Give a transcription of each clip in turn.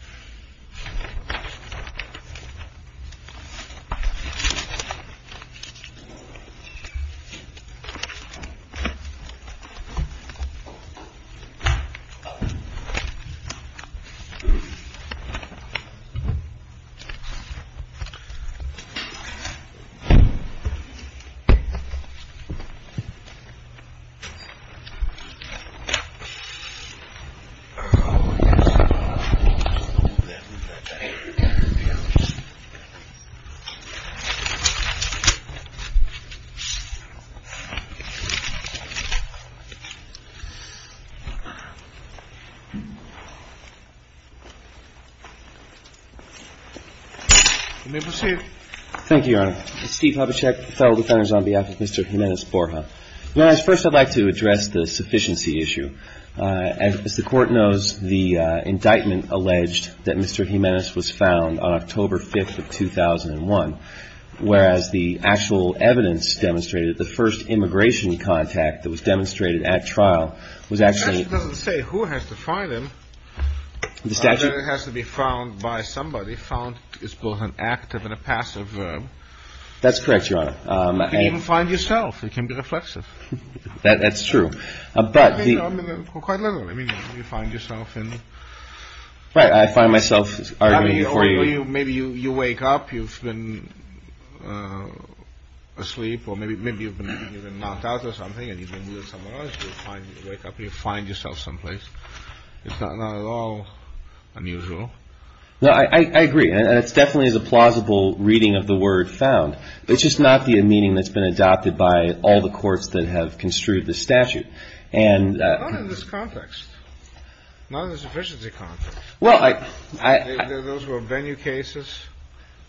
I.N. Thank you, Your Honor, I'm Steve Hopicek, Federal Defender on behalf of Mr. Jimenez-Borja. Your Honor, first I'd like to address the sufficiency issue. As the Court knows, the indictment alleged that Mr. Jimenez was found on October 5th of 2001, whereas the actual evidence demonstrated that the first immigration contact that was demonstrated at trial was actually... The statute doesn't say who has to find him. The statute... It has to be found by somebody, found is both an active and a passive verb. That's correct, Your Honor. You can even find yourself, you can be reflexive. That's true. I mean, quite literally, I mean, you find yourself in... Right, I find myself arguing for you. Maybe you wake up, you've been asleep, or maybe you've been knocked out or something, and you've been with someone else, you wake up, you find yourself someplace, it's not at all unusual. No, I agree, and it's definitely the plausible reading of the word found. It's just not the meaning that's been adopted by all the courts that have construed the statute. And... Not in this context. Not in the sufficiency context. Well, I... Those were venue cases.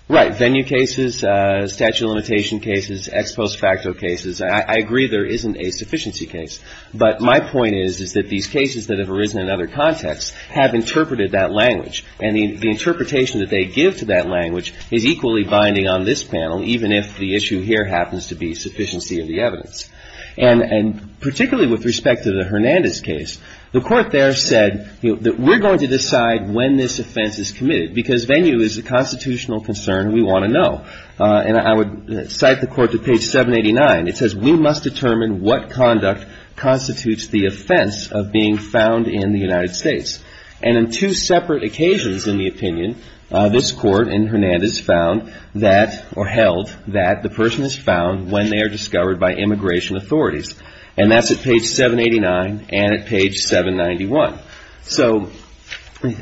Right. Venue cases, statute of limitation cases, ex post facto cases, I agree there isn't a sufficiency case, but my point is, is that these cases that have arisen in other contexts have interpreted that language, and the interpretation that they give to that language is equally binding on this panel, even if the issue here happens to be sufficiency of the evidence. And particularly with respect to the Hernandez case, the court there said that we're going to decide when this offense is committed, because venue is a constitutional concern we want to know. And I would cite the court to page 789, it says, we must determine what conduct constitutes the offense of being found in the United States. And on two separate occasions in the opinion, this court in Hernandez found that, or held, that the person is found when they are discovered by immigration authorities. And that's at page 789, and at page 791. So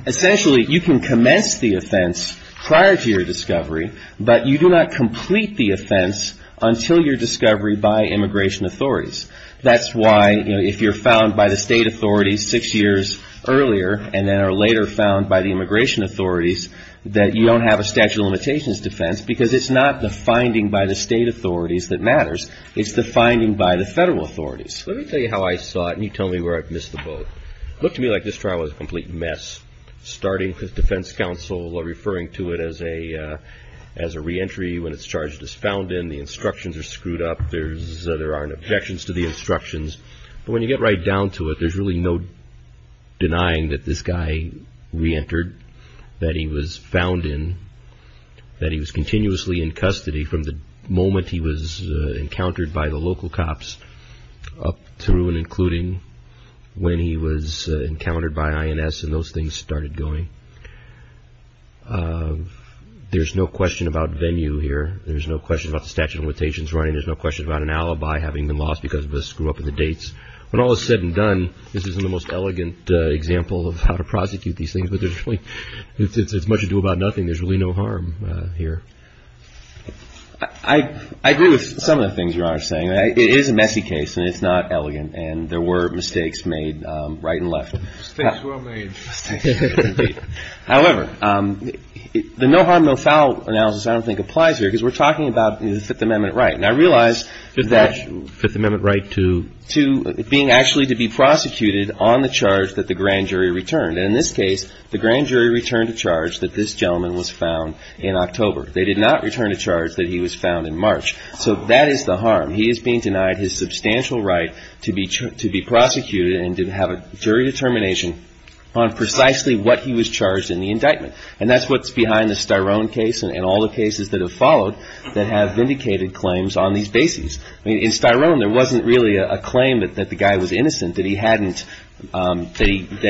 essentially, you can commence the offense prior to your discovery, but you do not complete the offense until your discovery by immigration authorities. That's why, you know, if you're found by the state authorities six years earlier, and then are later found by the immigration authorities, that you don't have a statute of limitations defense because it's not the finding by the state authorities that matters, it's the finding by the federal authorities. Let me tell you how I saw it, and you tell me where I've missed the boat. It looked to me like this trial was a complete mess, starting with defense counsel referring to it as a re-entry when it's charged as found in, the instructions are screwed up, there aren't objections to the instructions, but when you get right down to it, there's really no denying that this guy re-entered, that he was found in, that he was continuously in custody from the moment he was encountered by the local cops up through and including when he was encountered by INS, and those things started going. There's no question about venue here, there's no question about the statute of limitations running, there's no question about an alibi having been lost because of a screw up in the dates. When all is said and done, this isn't the most elegant example of how to prosecute these things, but there's really, it's much ado about nothing, there's really no harm here. I agree with some of the things Your Honor is saying, it is a messy case, and it's not elegant, and there were mistakes made right and left. Mistakes were made. However, the no harm, no foul analysis I don't think applies here, because we're talking about the Fifth Amendment right, and I realize that... Being actually to be prosecuted on the charge that the grand jury returned, and in this case, the grand jury returned a charge that this gentleman was found in October. They did not return a charge that he was found in March, so that is the harm. He is being denied his substantial right to be prosecuted and to have a jury determination on precisely what he was charged in the indictment, and that's what's behind the Styrone case and all the cases that have followed that have vindicated claims on these bases. In Styrone, there wasn't really a claim that the guy was innocent, that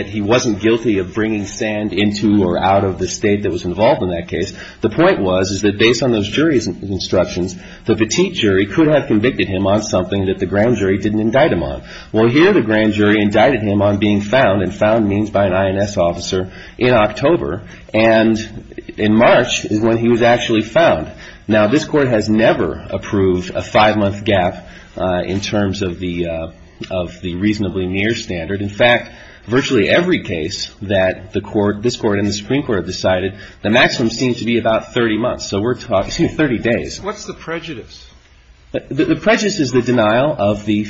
he wasn't guilty of bringing sand into or out of the state that was involved in that case. The point was, is that based on those jury's instructions, the petite jury could have convicted him on something that the grand jury didn't indict him on. Well, here the grand jury indicted him on being found, and found means by an INS officer, in October, and in March is when he was actually found. Now, this Court has never approved a five-month gap in terms of the reasonably near standard. In fact, virtually every case that this Court and the Supreme Court have decided, the maximum seems to be about 30 months, so we're talking 30 days. What's the prejudice? The prejudice is the denial of the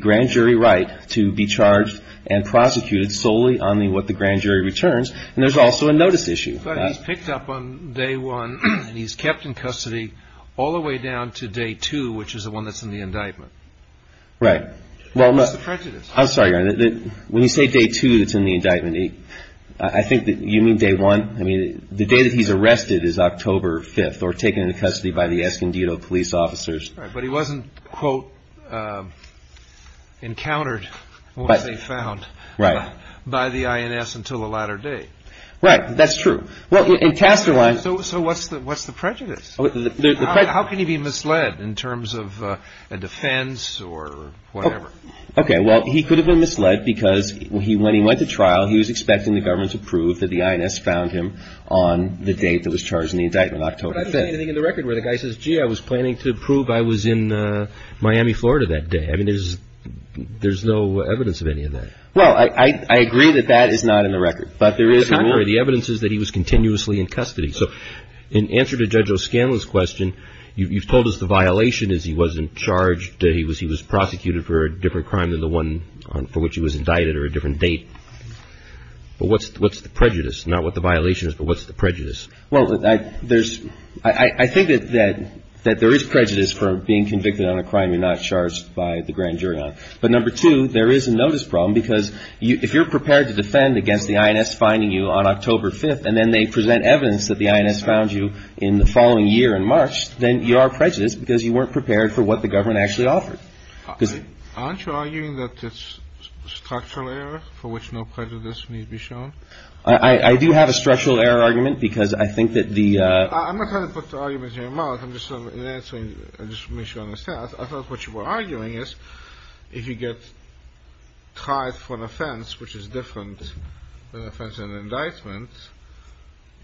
grand jury right to be charged and prosecuted solely on what the grand jury returns, and there's also a notice issue. But he's picked up on day one, and he's kept in custody all the way down to day two, which is the one that's in the indictment. Right. What's the prejudice? I'm sorry, Your Honor. When you say day two that's in the indictment, I think that you mean day one. I mean, the day that he's arrested is October 5th, or taken into custody by the Escondido police officers. Right, but he wasn't, quote, encountered, once they found, by the INS until the latter day. Right. That's true. Well, in Casterline... So what's the prejudice? The prejudice... How can he be misled in terms of a defense or whatever? Okay, well, he could have been misled because when he went to trial, he was expecting the government to prove that the INS found him on the date that was charged in the indictment, October 5th. But I don't see anything in the record where the guy says, gee, I was planning to prove I was in Miami, Florida that day. I mean, there's no evidence of any of that. Well, I agree that that is not in the record. But there is... The evidence is that he was continuously in custody. So in answer to Judge O'Scanlon's question, you've told us the violation is he wasn't charged, he was prosecuted for a different crime than the one for which he was indicted or a different date. But what's the prejudice? Not what the violation is, but what's the prejudice? Well, I think that there is prejudice for being convicted on a crime you're not charged by the grand jury on. But number two, there is a notice problem because if you're prepared to defend against the INS finding you on October 5th, and then they present evidence that the INS found you in the following year in March, then you are prejudiced because you weren't prepared for what the government actually offered. Aren't you arguing that it's structural error for which no prejudice needs to be shown? I do have a structural error argument because I think that the... I'm not trying to put arguments in your mouth, I'm just answering just to make sure I understand. I thought what you were arguing is if you get tried for an offense which is different than an offense and an indictment,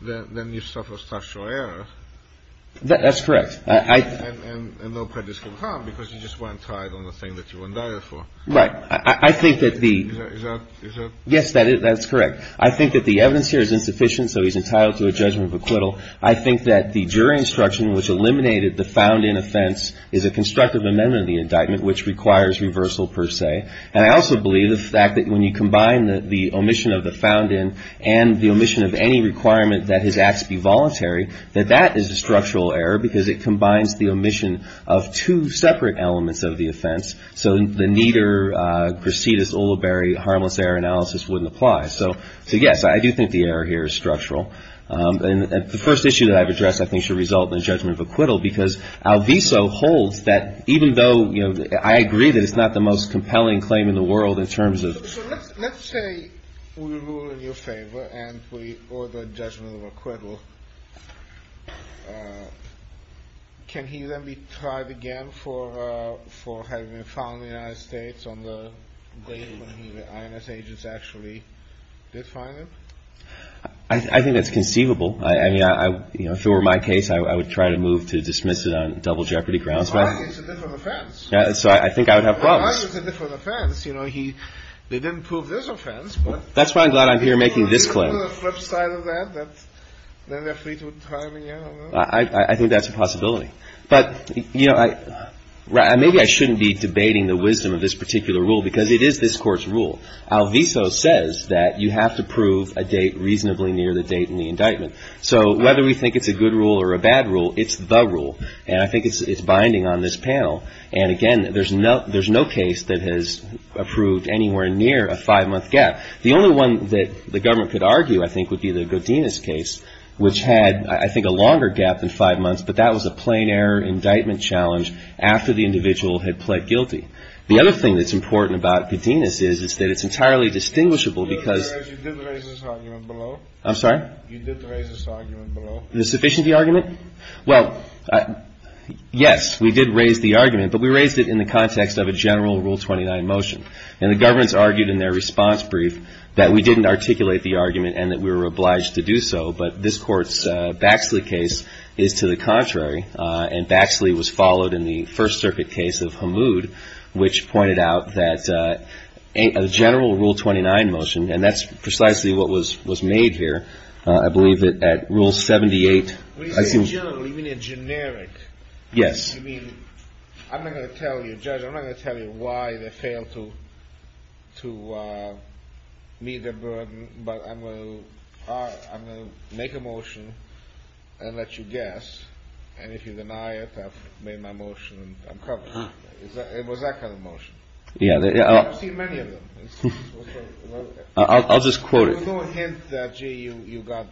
then you suffer structural error. That's correct. And no prejudice can come because you just weren't tried on the thing that you were indicted for. Right. I think that the... Is that... Yes, that's correct. I think that the evidence here is insufficient, so he's entitled to a judgment of acquittal. I think that the jury instruction which eliminated the found-in offense is a constructive amendment of the indictment which requires reversal per se, and I also believe the fact that when you combine the omission of the found-in and the omission of any requirement that his acts be voluntary, that that is a structural error because it combines the omission of two separate elements of the offense, so the neater Grassidis-Ulibarri harmless error analysis wouldn't apply. So, yes, I do think the error here is structural. And the first issue that I've addressed I think should result in a judgment of acquittal because Alviso holds that even though, you know, I agree that it's not the most compelling claim in the world in terms of... So let's say we rule in your favor and we order a judgment of acquittal. Can he then be tried again for having been found in the United States on the day when the INS agents actually did find him? I think that's conceivable. I mean, you know, if it were my case, I would try to move to dismiss it on double jeopardy grounds, but... The argument's a different offense. So I think I would have problems. The argument's a different offense. You know, they didn't prove this offense, but... That's why I'm glad I'm here making this claim. Isn't there a flip side of that, that then they're free to try him again? I think that's a possibility. But, you know, maybe I shouldn't be debating the wisdom of this particular rule because it is this Court's rule. Alviso says that you have to prove a date reasonably near the date in the indictment. So whether we think it's a good rule or a bad rule, it's the rule. And I think it's binding on this panel. And again, there's no case that has approved anywhere near a five-month gap. The only one that the government could argue, I think, would be the Godinez case, which had, I think, a longer gap than five months, but that was a plain error indictment challenge after the individual had pled guilty. The other thing that's important about Godinez is that it's entirely distinguishable because... You did raise this argument below. I'm sorry? You did raise this argument below. The sufficiency argument? Well, yes, we did raise the argument, but we raised it in the context of a general Rule 29 motion. And the government's argued in their response brief that we didn't articulate the argument and that we were obliged to do so. But this Court's Baxley case is to the contrary. And Baxley was followed in the First Circuit case of Hamoud, which pointed out that a general Rule 29 motion, and that's precisely what was made here, I believe that at Rule 78... When you say general, you mean a generic? Yes. You mean... I'm not going to tell you, Judge, I'm not going to tell you why they failed to meet their burden, but I'm going to make a motion and let you guess. And if you deny it, I've made my motion and I'm covered. It was that kind of motion. Yeah. I've seen many of them. I'll just quote it. There was no hint that, gee, you got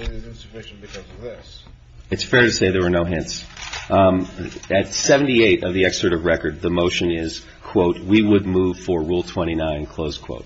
insufficient because of this. It's fair to say there were no hints. At 78 of the excerpt of record, the motion is, quote, we would move for Rule 29, close quote.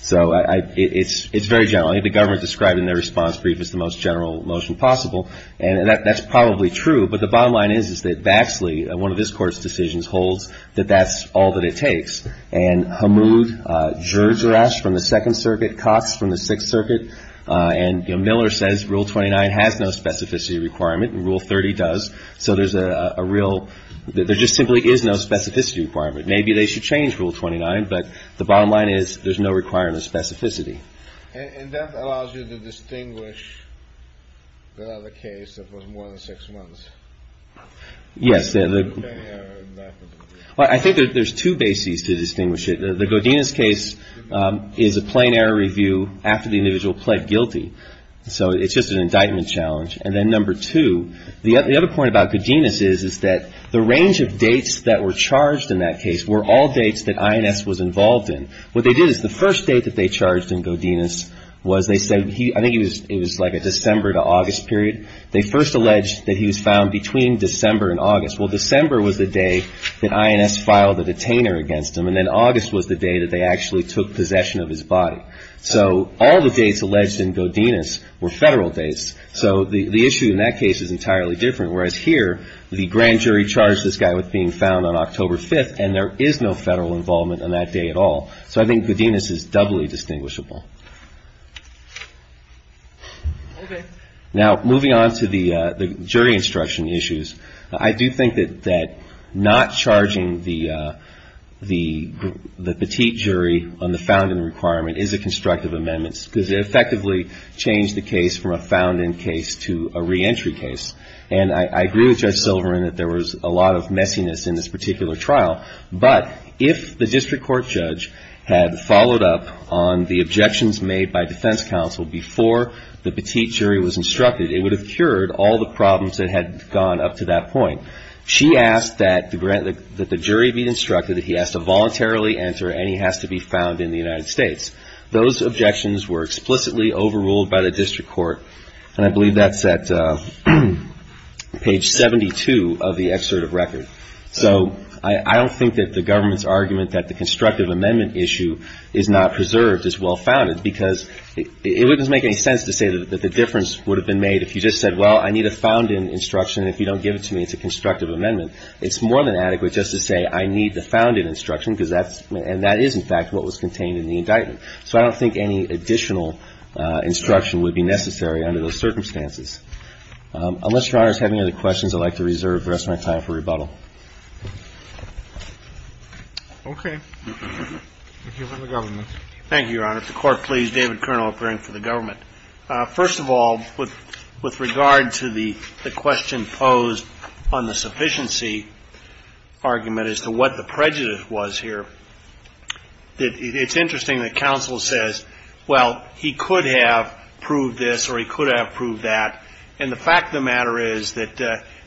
So it's very general. I think the government described in their response brief as the most general motion possible. And that's probably true. But the bottom line is, is that Vaxley, one of this Court's decisions, holds that that's all that it takes. And Hamoud, Gergerash from the Second Circuit, Cox from the Sixth Circuit, and Miller says Rule 29 has no specificity requirement and Rule 30 does. So there's a real... There just simply is no specificity requirement. Maybe they should change Rule 29, but the bottom line is there's no requirement of specificity. And that allows you to distinguish the other case that was more than six months. Yes. I think there's two bases to distinguish it. The Godinez case is a plain error review after the individual pled guilty. So it's just an indictment challenge. And then number two, the other point about Godinez is, is that the range of dates that were charged in that case were all dates that INS was involved in. What they did is the first date that they charged in Godinez was they said he... I think it was like a December to August period. They first alleged that he was found between December and August. Well, December was the day that INS filed a detainer against him. And then August was the day that they actually took possession of his body. So all the dates alleged in Godinez were federal dates. So the issue in that case is entirely different. Whereas here, the grand jury charged this guy with being found on October 5th. And there is no federal involvement on that day at all. So I think Godinez is doubly distinguishable. Now, moving on to the jury instruction issues. I do think that not charging the petite jury on the found in requirement is a constructive amendment because it effectively changed the case from a found in case to a reentry case. And I agree with Judge Silverman that there was a lot of messiness in this particular trial. But if the district court judge had followed up on the objections made by defense counsel before the petite jury was instructed, it would have cured all the problems that had gone up to that point. She asked that the jury be instructed that he has to voluntarily enter and he has to be found in the United States. Those objections were explicitly overruled by the district court. And I believe that's at page 72 of the excerpt of record. So I don't think that the government's argument that the constructive amendment issue is not preserved as well-founded because it wouldn't make any sense to say that the difference would have been made if you just said, well, I need a found in instruction. And if you don't give it to me, it's a constructive amendment. It's more than adequate just to say, I need the found in instruction because that's and that is in fact what was contained in the indictment. So I don't think any additional instruction would be necessary under those circumstances. Unless your honors have any other questions, I'd like to reserve the rest of my time for the panel. Okay. The government. Thank you, your honor. The court please. David Kernal, appearing for the government. First of all, with regard to the question posed on the sufficiency argument as to what the prejudice was here, it's interesting that counsel says, well, he could have proved this or he could have proved that. And the fact of the matter is that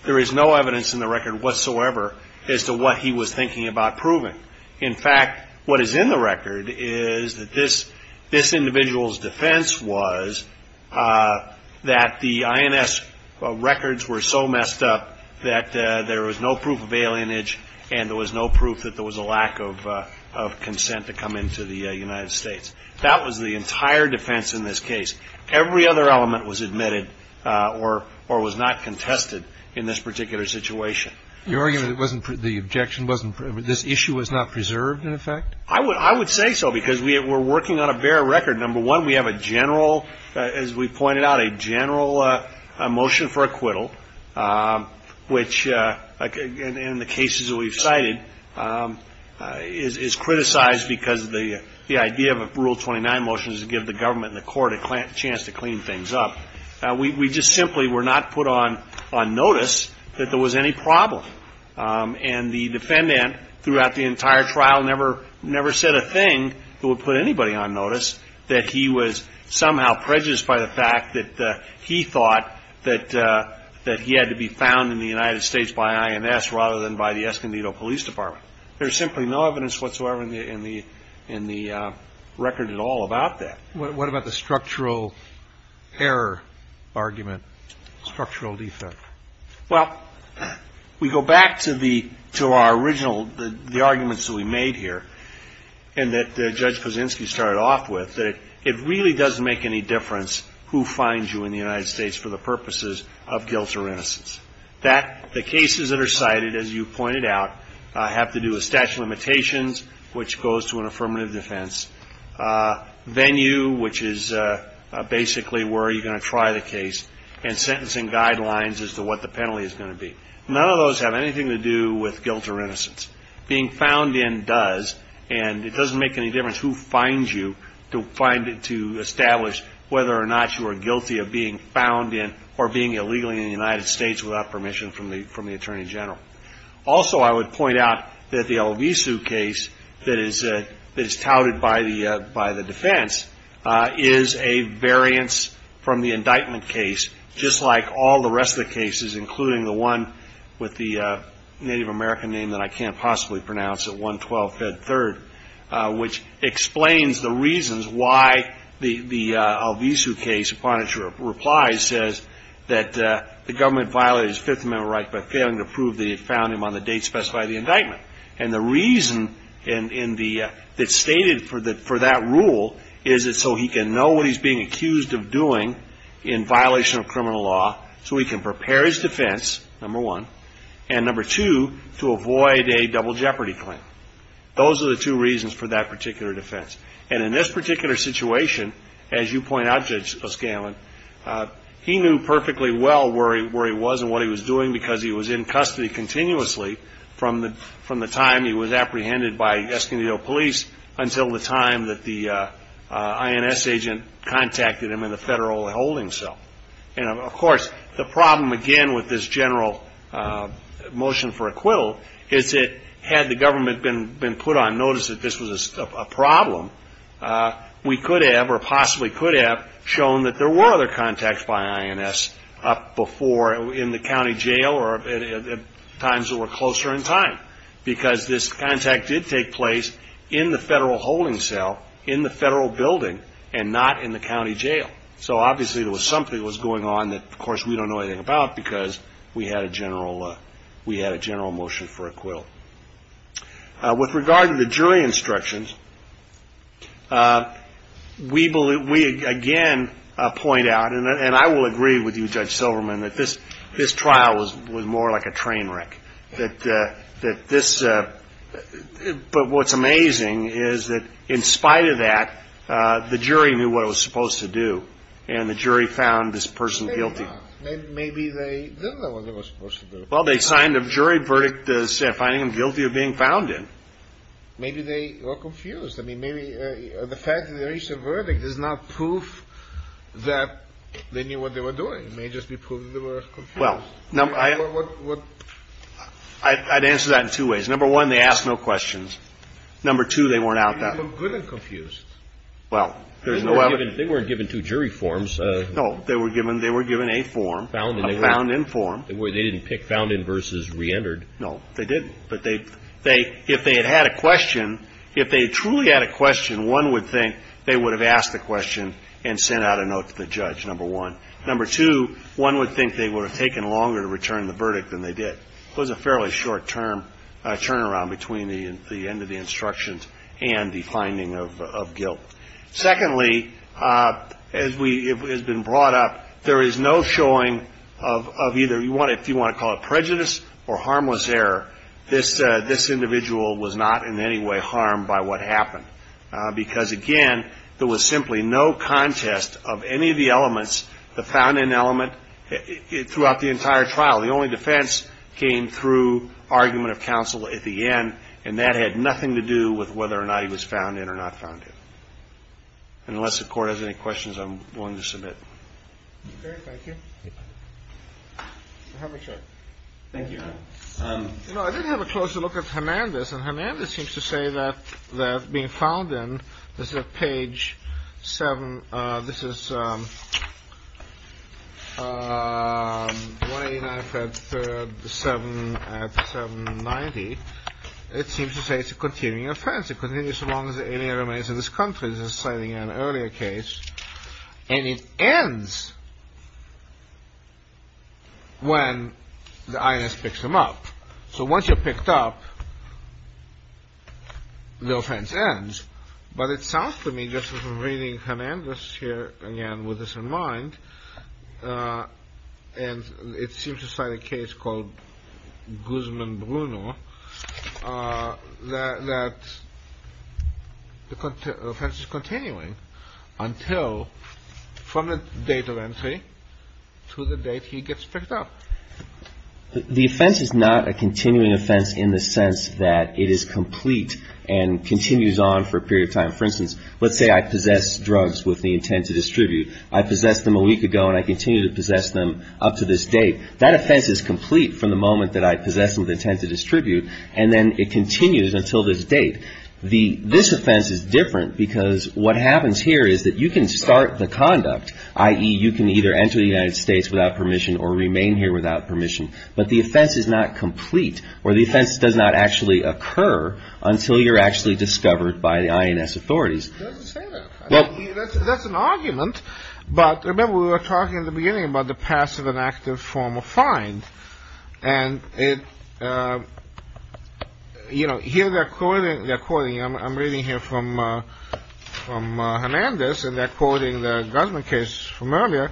there is no evidence in the record whatsoever as to what he was thinking about proving. In fact, what is in the record is that this individual's defense was that the INS records were so messed up that there was no proof of alienage and there was no proof that there was a lack of consent to come into the United States. That was the entire defense in this case. Every other element was admitted or was not contested in this particular situation. Your argument, the objection wasn't, this issue was not preserved in effect? I would say so because we were working on a bare record. Number one, we have a general, as we pointed out, a general motion for acquittal, which, in the cases that we've cited, is criticized because of the idea of a rule 29 motion is to give the government and the court a chance to clean things up. We just simply were not put on notice that there was any problem. And the defendant throughout the entire trial never said a thing that would put anybody on notice that he was somehow prejudiced by the fact that he thought that he had to be found in the United States by INS rather than by the Escondido Police Department. There's simply no evidence whatsoever in the record at all about that. What about the structural error argument, structural defect? Well, we go back to our original, the arguments that we made here and that Judge Kaczynski started off with, that it really doesn't make any difference who finds you in the United States for the purposes of guilt or innocence. The cases that are cited, as you pointed out, have to do with statute of limitations, which goes to an affirmative defense, venue, which is basically where you're going to try the case, and sentencing guidelines as to what the penalty is going to be. None of those have anything to do with guilt or innocence. Being found in does, and it doesn't make any difference who finds you to establish whether or not you are guilty of being found in or being illegally in the United States without permission from the Attorney General. Also, I would point out that the Alvisu case that is touted by the defense is a variance from the indictment case, just like all the rest of the cases, including the one with the Native American name that I can't possibly pronounce, at 112 Fed Third, which explains the reasons why the Alvisu case, upon its replies, says that the government violated his Fifth Amendment right by failing to prove that he had found him on the date specified in the indictment. And the reason that's stated for that rule is so he can know what he's being accused of doing in violation of criminal law, so he can prepare his defense, number one, and number two, to avoid a double jeopardy claim. Those are the two reasons for that particular defense. And in this particular situation, as you point out, Judge O'Scanlan, he knew perfectly well where he was and what he was doing because he was in custody continuously from the time he was apprehended by Escondido police until the time that the INS agent contacted him in the federal holding cell. And of course, the problem, again, with this general motion for acquittal, is that had the government been put on notice that this was a problem, we could have, or possibly could have, shown that there were other contacts by INS up before in the county jail or at times that were closer in time, because this contact did take place in the federal holding cell, in the federal building, and not in the county jail. So obviously there was something that was going on that, of course, we don't know anything about because we had a general motion for acquittal. With regard to the jury instructions, we again point out, and I will agree with you, Judge Silverman, that this trial was more like a train wreck, but what's amazing is that in spite of that, the jury knew what it was supposed to do, and the jury found this person guilty. And maybe they didn't know what it was supposed to do. Well, they signed a jury verdict finding them guilty of being found in. Maybe they were confused. I mean, maybe the fact that they reached a verdict is not proof that they knew what they were doing. It may just be proof that they were confused. Well, I'd answer that in two ways. Number one, they asked no questions. Number two, they weren't out that way. They were good and confused. Well, there's no other. They weren't given two jury forms. No, they were given a form, a found-in form. They didn't pick found-in versus re-entered. No, they didn't. But if they had had a question, if they truly had a question, one would think they would have asked the question and sent out a note to the judge, number one. Number two, one would think they would have taken longer to return the verdict than they did. finding of guilt. Secondly, as has been brought up, there is no showing of either, if you want to call it prejudice or harmless error, this individual was not in any way harmed by what happened because, again, there was simply no contest of any of the elements, the found-in element, throughout the entire trial. The only defense came through argument of counsel at the end, and that had nothing to do with whether or not he was found in or not found in. Unless the court has any questions, I'm willing to submit. Thank you. Thank you. No, I didn't have a closer look at Hernandez. And Hernandez seems to say that they're being found in. This is a page seven. This is one eighty nine at seven ninety. It seems to say it's a continuing offense. It continues as long as the alien remains in this country. This is citing an earlier case and it ends. When the I.S. picks him up, so once you're picked up. The offense ends, but it sounds to me this is really Hernandez here again with this in mind, and it seems to cite a case called Guzman Bruno that the offense is continuing until from the date of entry to the date he gets picked up. The offense is not a continuing offense in the sense that it is complete and continues on for a period of time. For instance, let's say I possess drugs with the intent to distribute. I possessed them a week ago and I continue to possess them up to this date. That offense is complete from the moment that I possess them with intent to distribute, and then it continues until this date. The this offense is different because what happens here is that you can start the conduct, i.e. you can either enter the United States without permission or remain here without permission. But the offense is not complete or the offense does not actually occur until you're actually discovered by the I.N.S. authorities. That's an argument. But remember, we were talking in the beginning about the passive and active form of crime. And it, you know, here they're quoting, I'm reading here from from Hernandez and they're quoting the Guzman case from earlier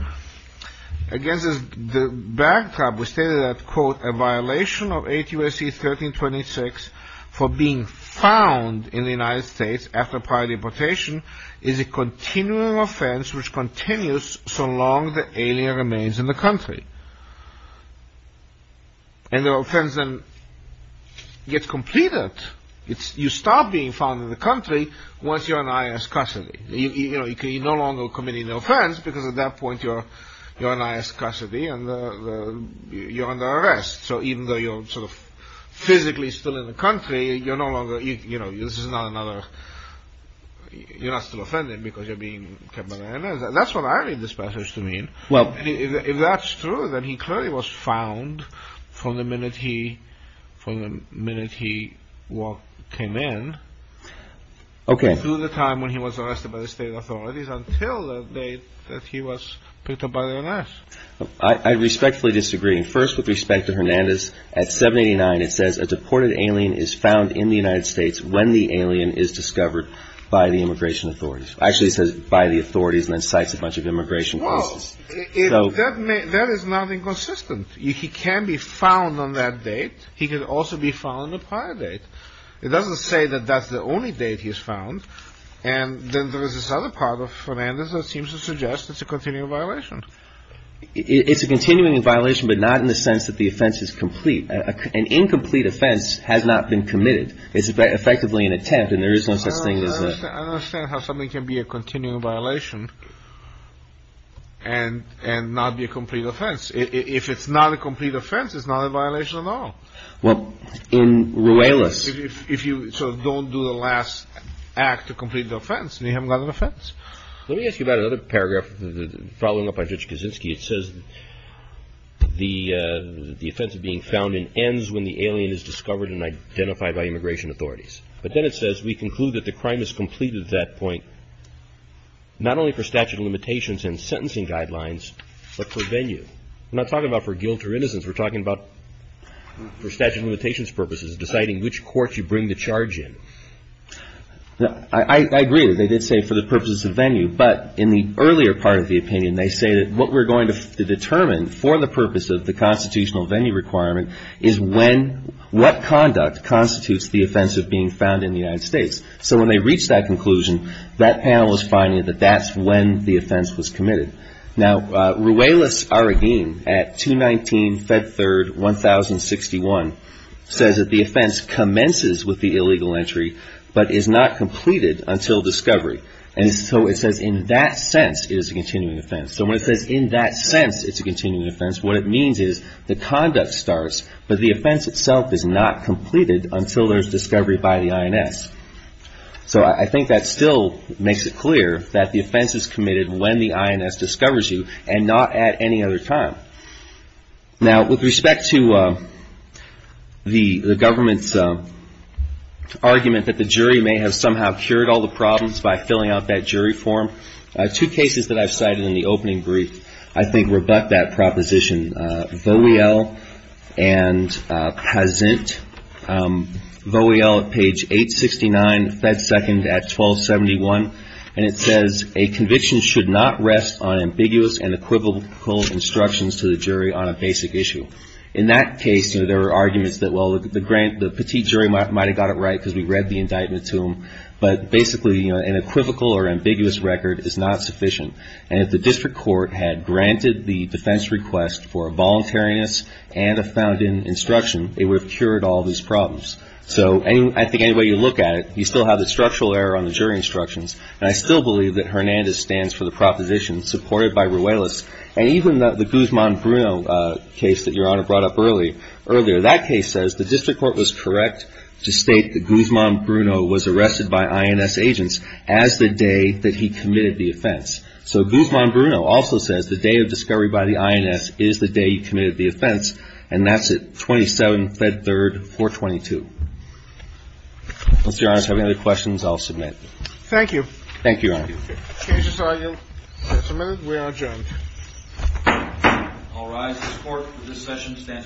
against the backdrop. We stated that, quote, a violation of 8 U.S.C. 1326 for being found in the United States after prior deportation is a continuing offense which continues so long the alien remains in the country. And the offense then gets completed. You stop being found in the country once you're an I.N.S. custody. You no longer commit an offense because at that point you're an I.N.S. custody and you're under arrest. So even though you're sort of physically still in the country, you're no longer, you know, this is not another, you're not still offended because you're being kept by the I.N.S. That's what I read this passage to mean. Well, if that's true, then he clearly was found from the minute he, from the minute he came in through the time when he was arrested by the state authorities until the date that he was picked up by the I.N.S. I respectfully disagree. First, with respect to Hernandez, at 789, it says a deported alien is found in the United States when the alien is discovered by the immigration authorities. Actually, it says by the authorities and then cites a bunch of immigration cases. So that is not inconsistent. He can be found on that date. He could also be found on a prior date. It doesn't say that that's the only date he's found. And then there is this other part of Hernandez that seems to suggest it's a continual violation. It's a continuing violation, but not in the sense that the offense is complete. An incomplete offense has not been committed. It's effectively an attempt. And there is no such thing as I understand how something can be a continual violation. And and not be a complete offense, if it's not a complete offense, it's not a violation at all. Well, in Ruelas, if you don't do the last act to complete the offense, you haven't got an offense. Let me ask you about another paragraph following up on Judge Kaczynski. It says the the offense of being found in ends when the alien is discovered and identified by immigration authorities. But then it says we conclude that the crime is complete at that point. Not only for statute of limitations and sentencing guidelines, but for venue, not talking about for guilt or innocence. We're talking about for statute of limitations purposes, deciding which court you bring the charge in. I agree that they did say for the purposes of venue, but in the earlier part of the opinion, they say that what we're going to determine for the purpose of the constitutional venue requirement is when what conduct constitutes the offense of being found in the United States. So when they reach that conclusion, that panel is finding that that's when the offense was committed. Now, Ruelas-Arragin at 219 Fed Third 1061 says that the offense commences with the illegal entry, but is not completed until discovery. And so it says in that sense, it is a continuing offense. So when it says in that sense, it's a continuing offense. What it means is the conduct starts, but the offense itself is not completed until there's discovery by the INS. So I think that still makes it clear that the offense is committed when the INS discovers you and not at any other time. Now, with respect to the government's argument that the jury may have somehow cured all the problems by filling out that jury form, two cases that I've cited in the opening brief, I think rebut that proposition. Vowiel and Pazint, Vowiel at page 869, Fed Second at 1271. And it says a conviction should not rest on ambiguous and equivocal instructions to the jury on a basic issue. In that case, there were arguments that, well, the grant, the petite jury might have got it right because we read the indictment to them. But basically, you know, an equivocal or ambiguous record is not sufficient. And if the district court had granted the defense request for a voluntariness and a found-in instruction, it would have cured all these problems. So I think any way you look at it, you still have the structural error on the jury instructions. And I still believe that Hernandez stands for the proposition supported by Ruelas. And even the Guzman-Bruno case that Your Honor brought up earlier, that case says the district court was correct to state that Guzman-Bruno was arrested by INS agents as the day that he committed the offense. So Guzman-Bruno also says the day of discovery by the INS is the day he committed the offense. And that's at 27 Fed Third 422. Does Your Honor have any other questions? I'll submit. Thank you. Thank you, Your Honor. Can we just argue for a minute? We are adjourned. All rise. The court for this session stands adjourned.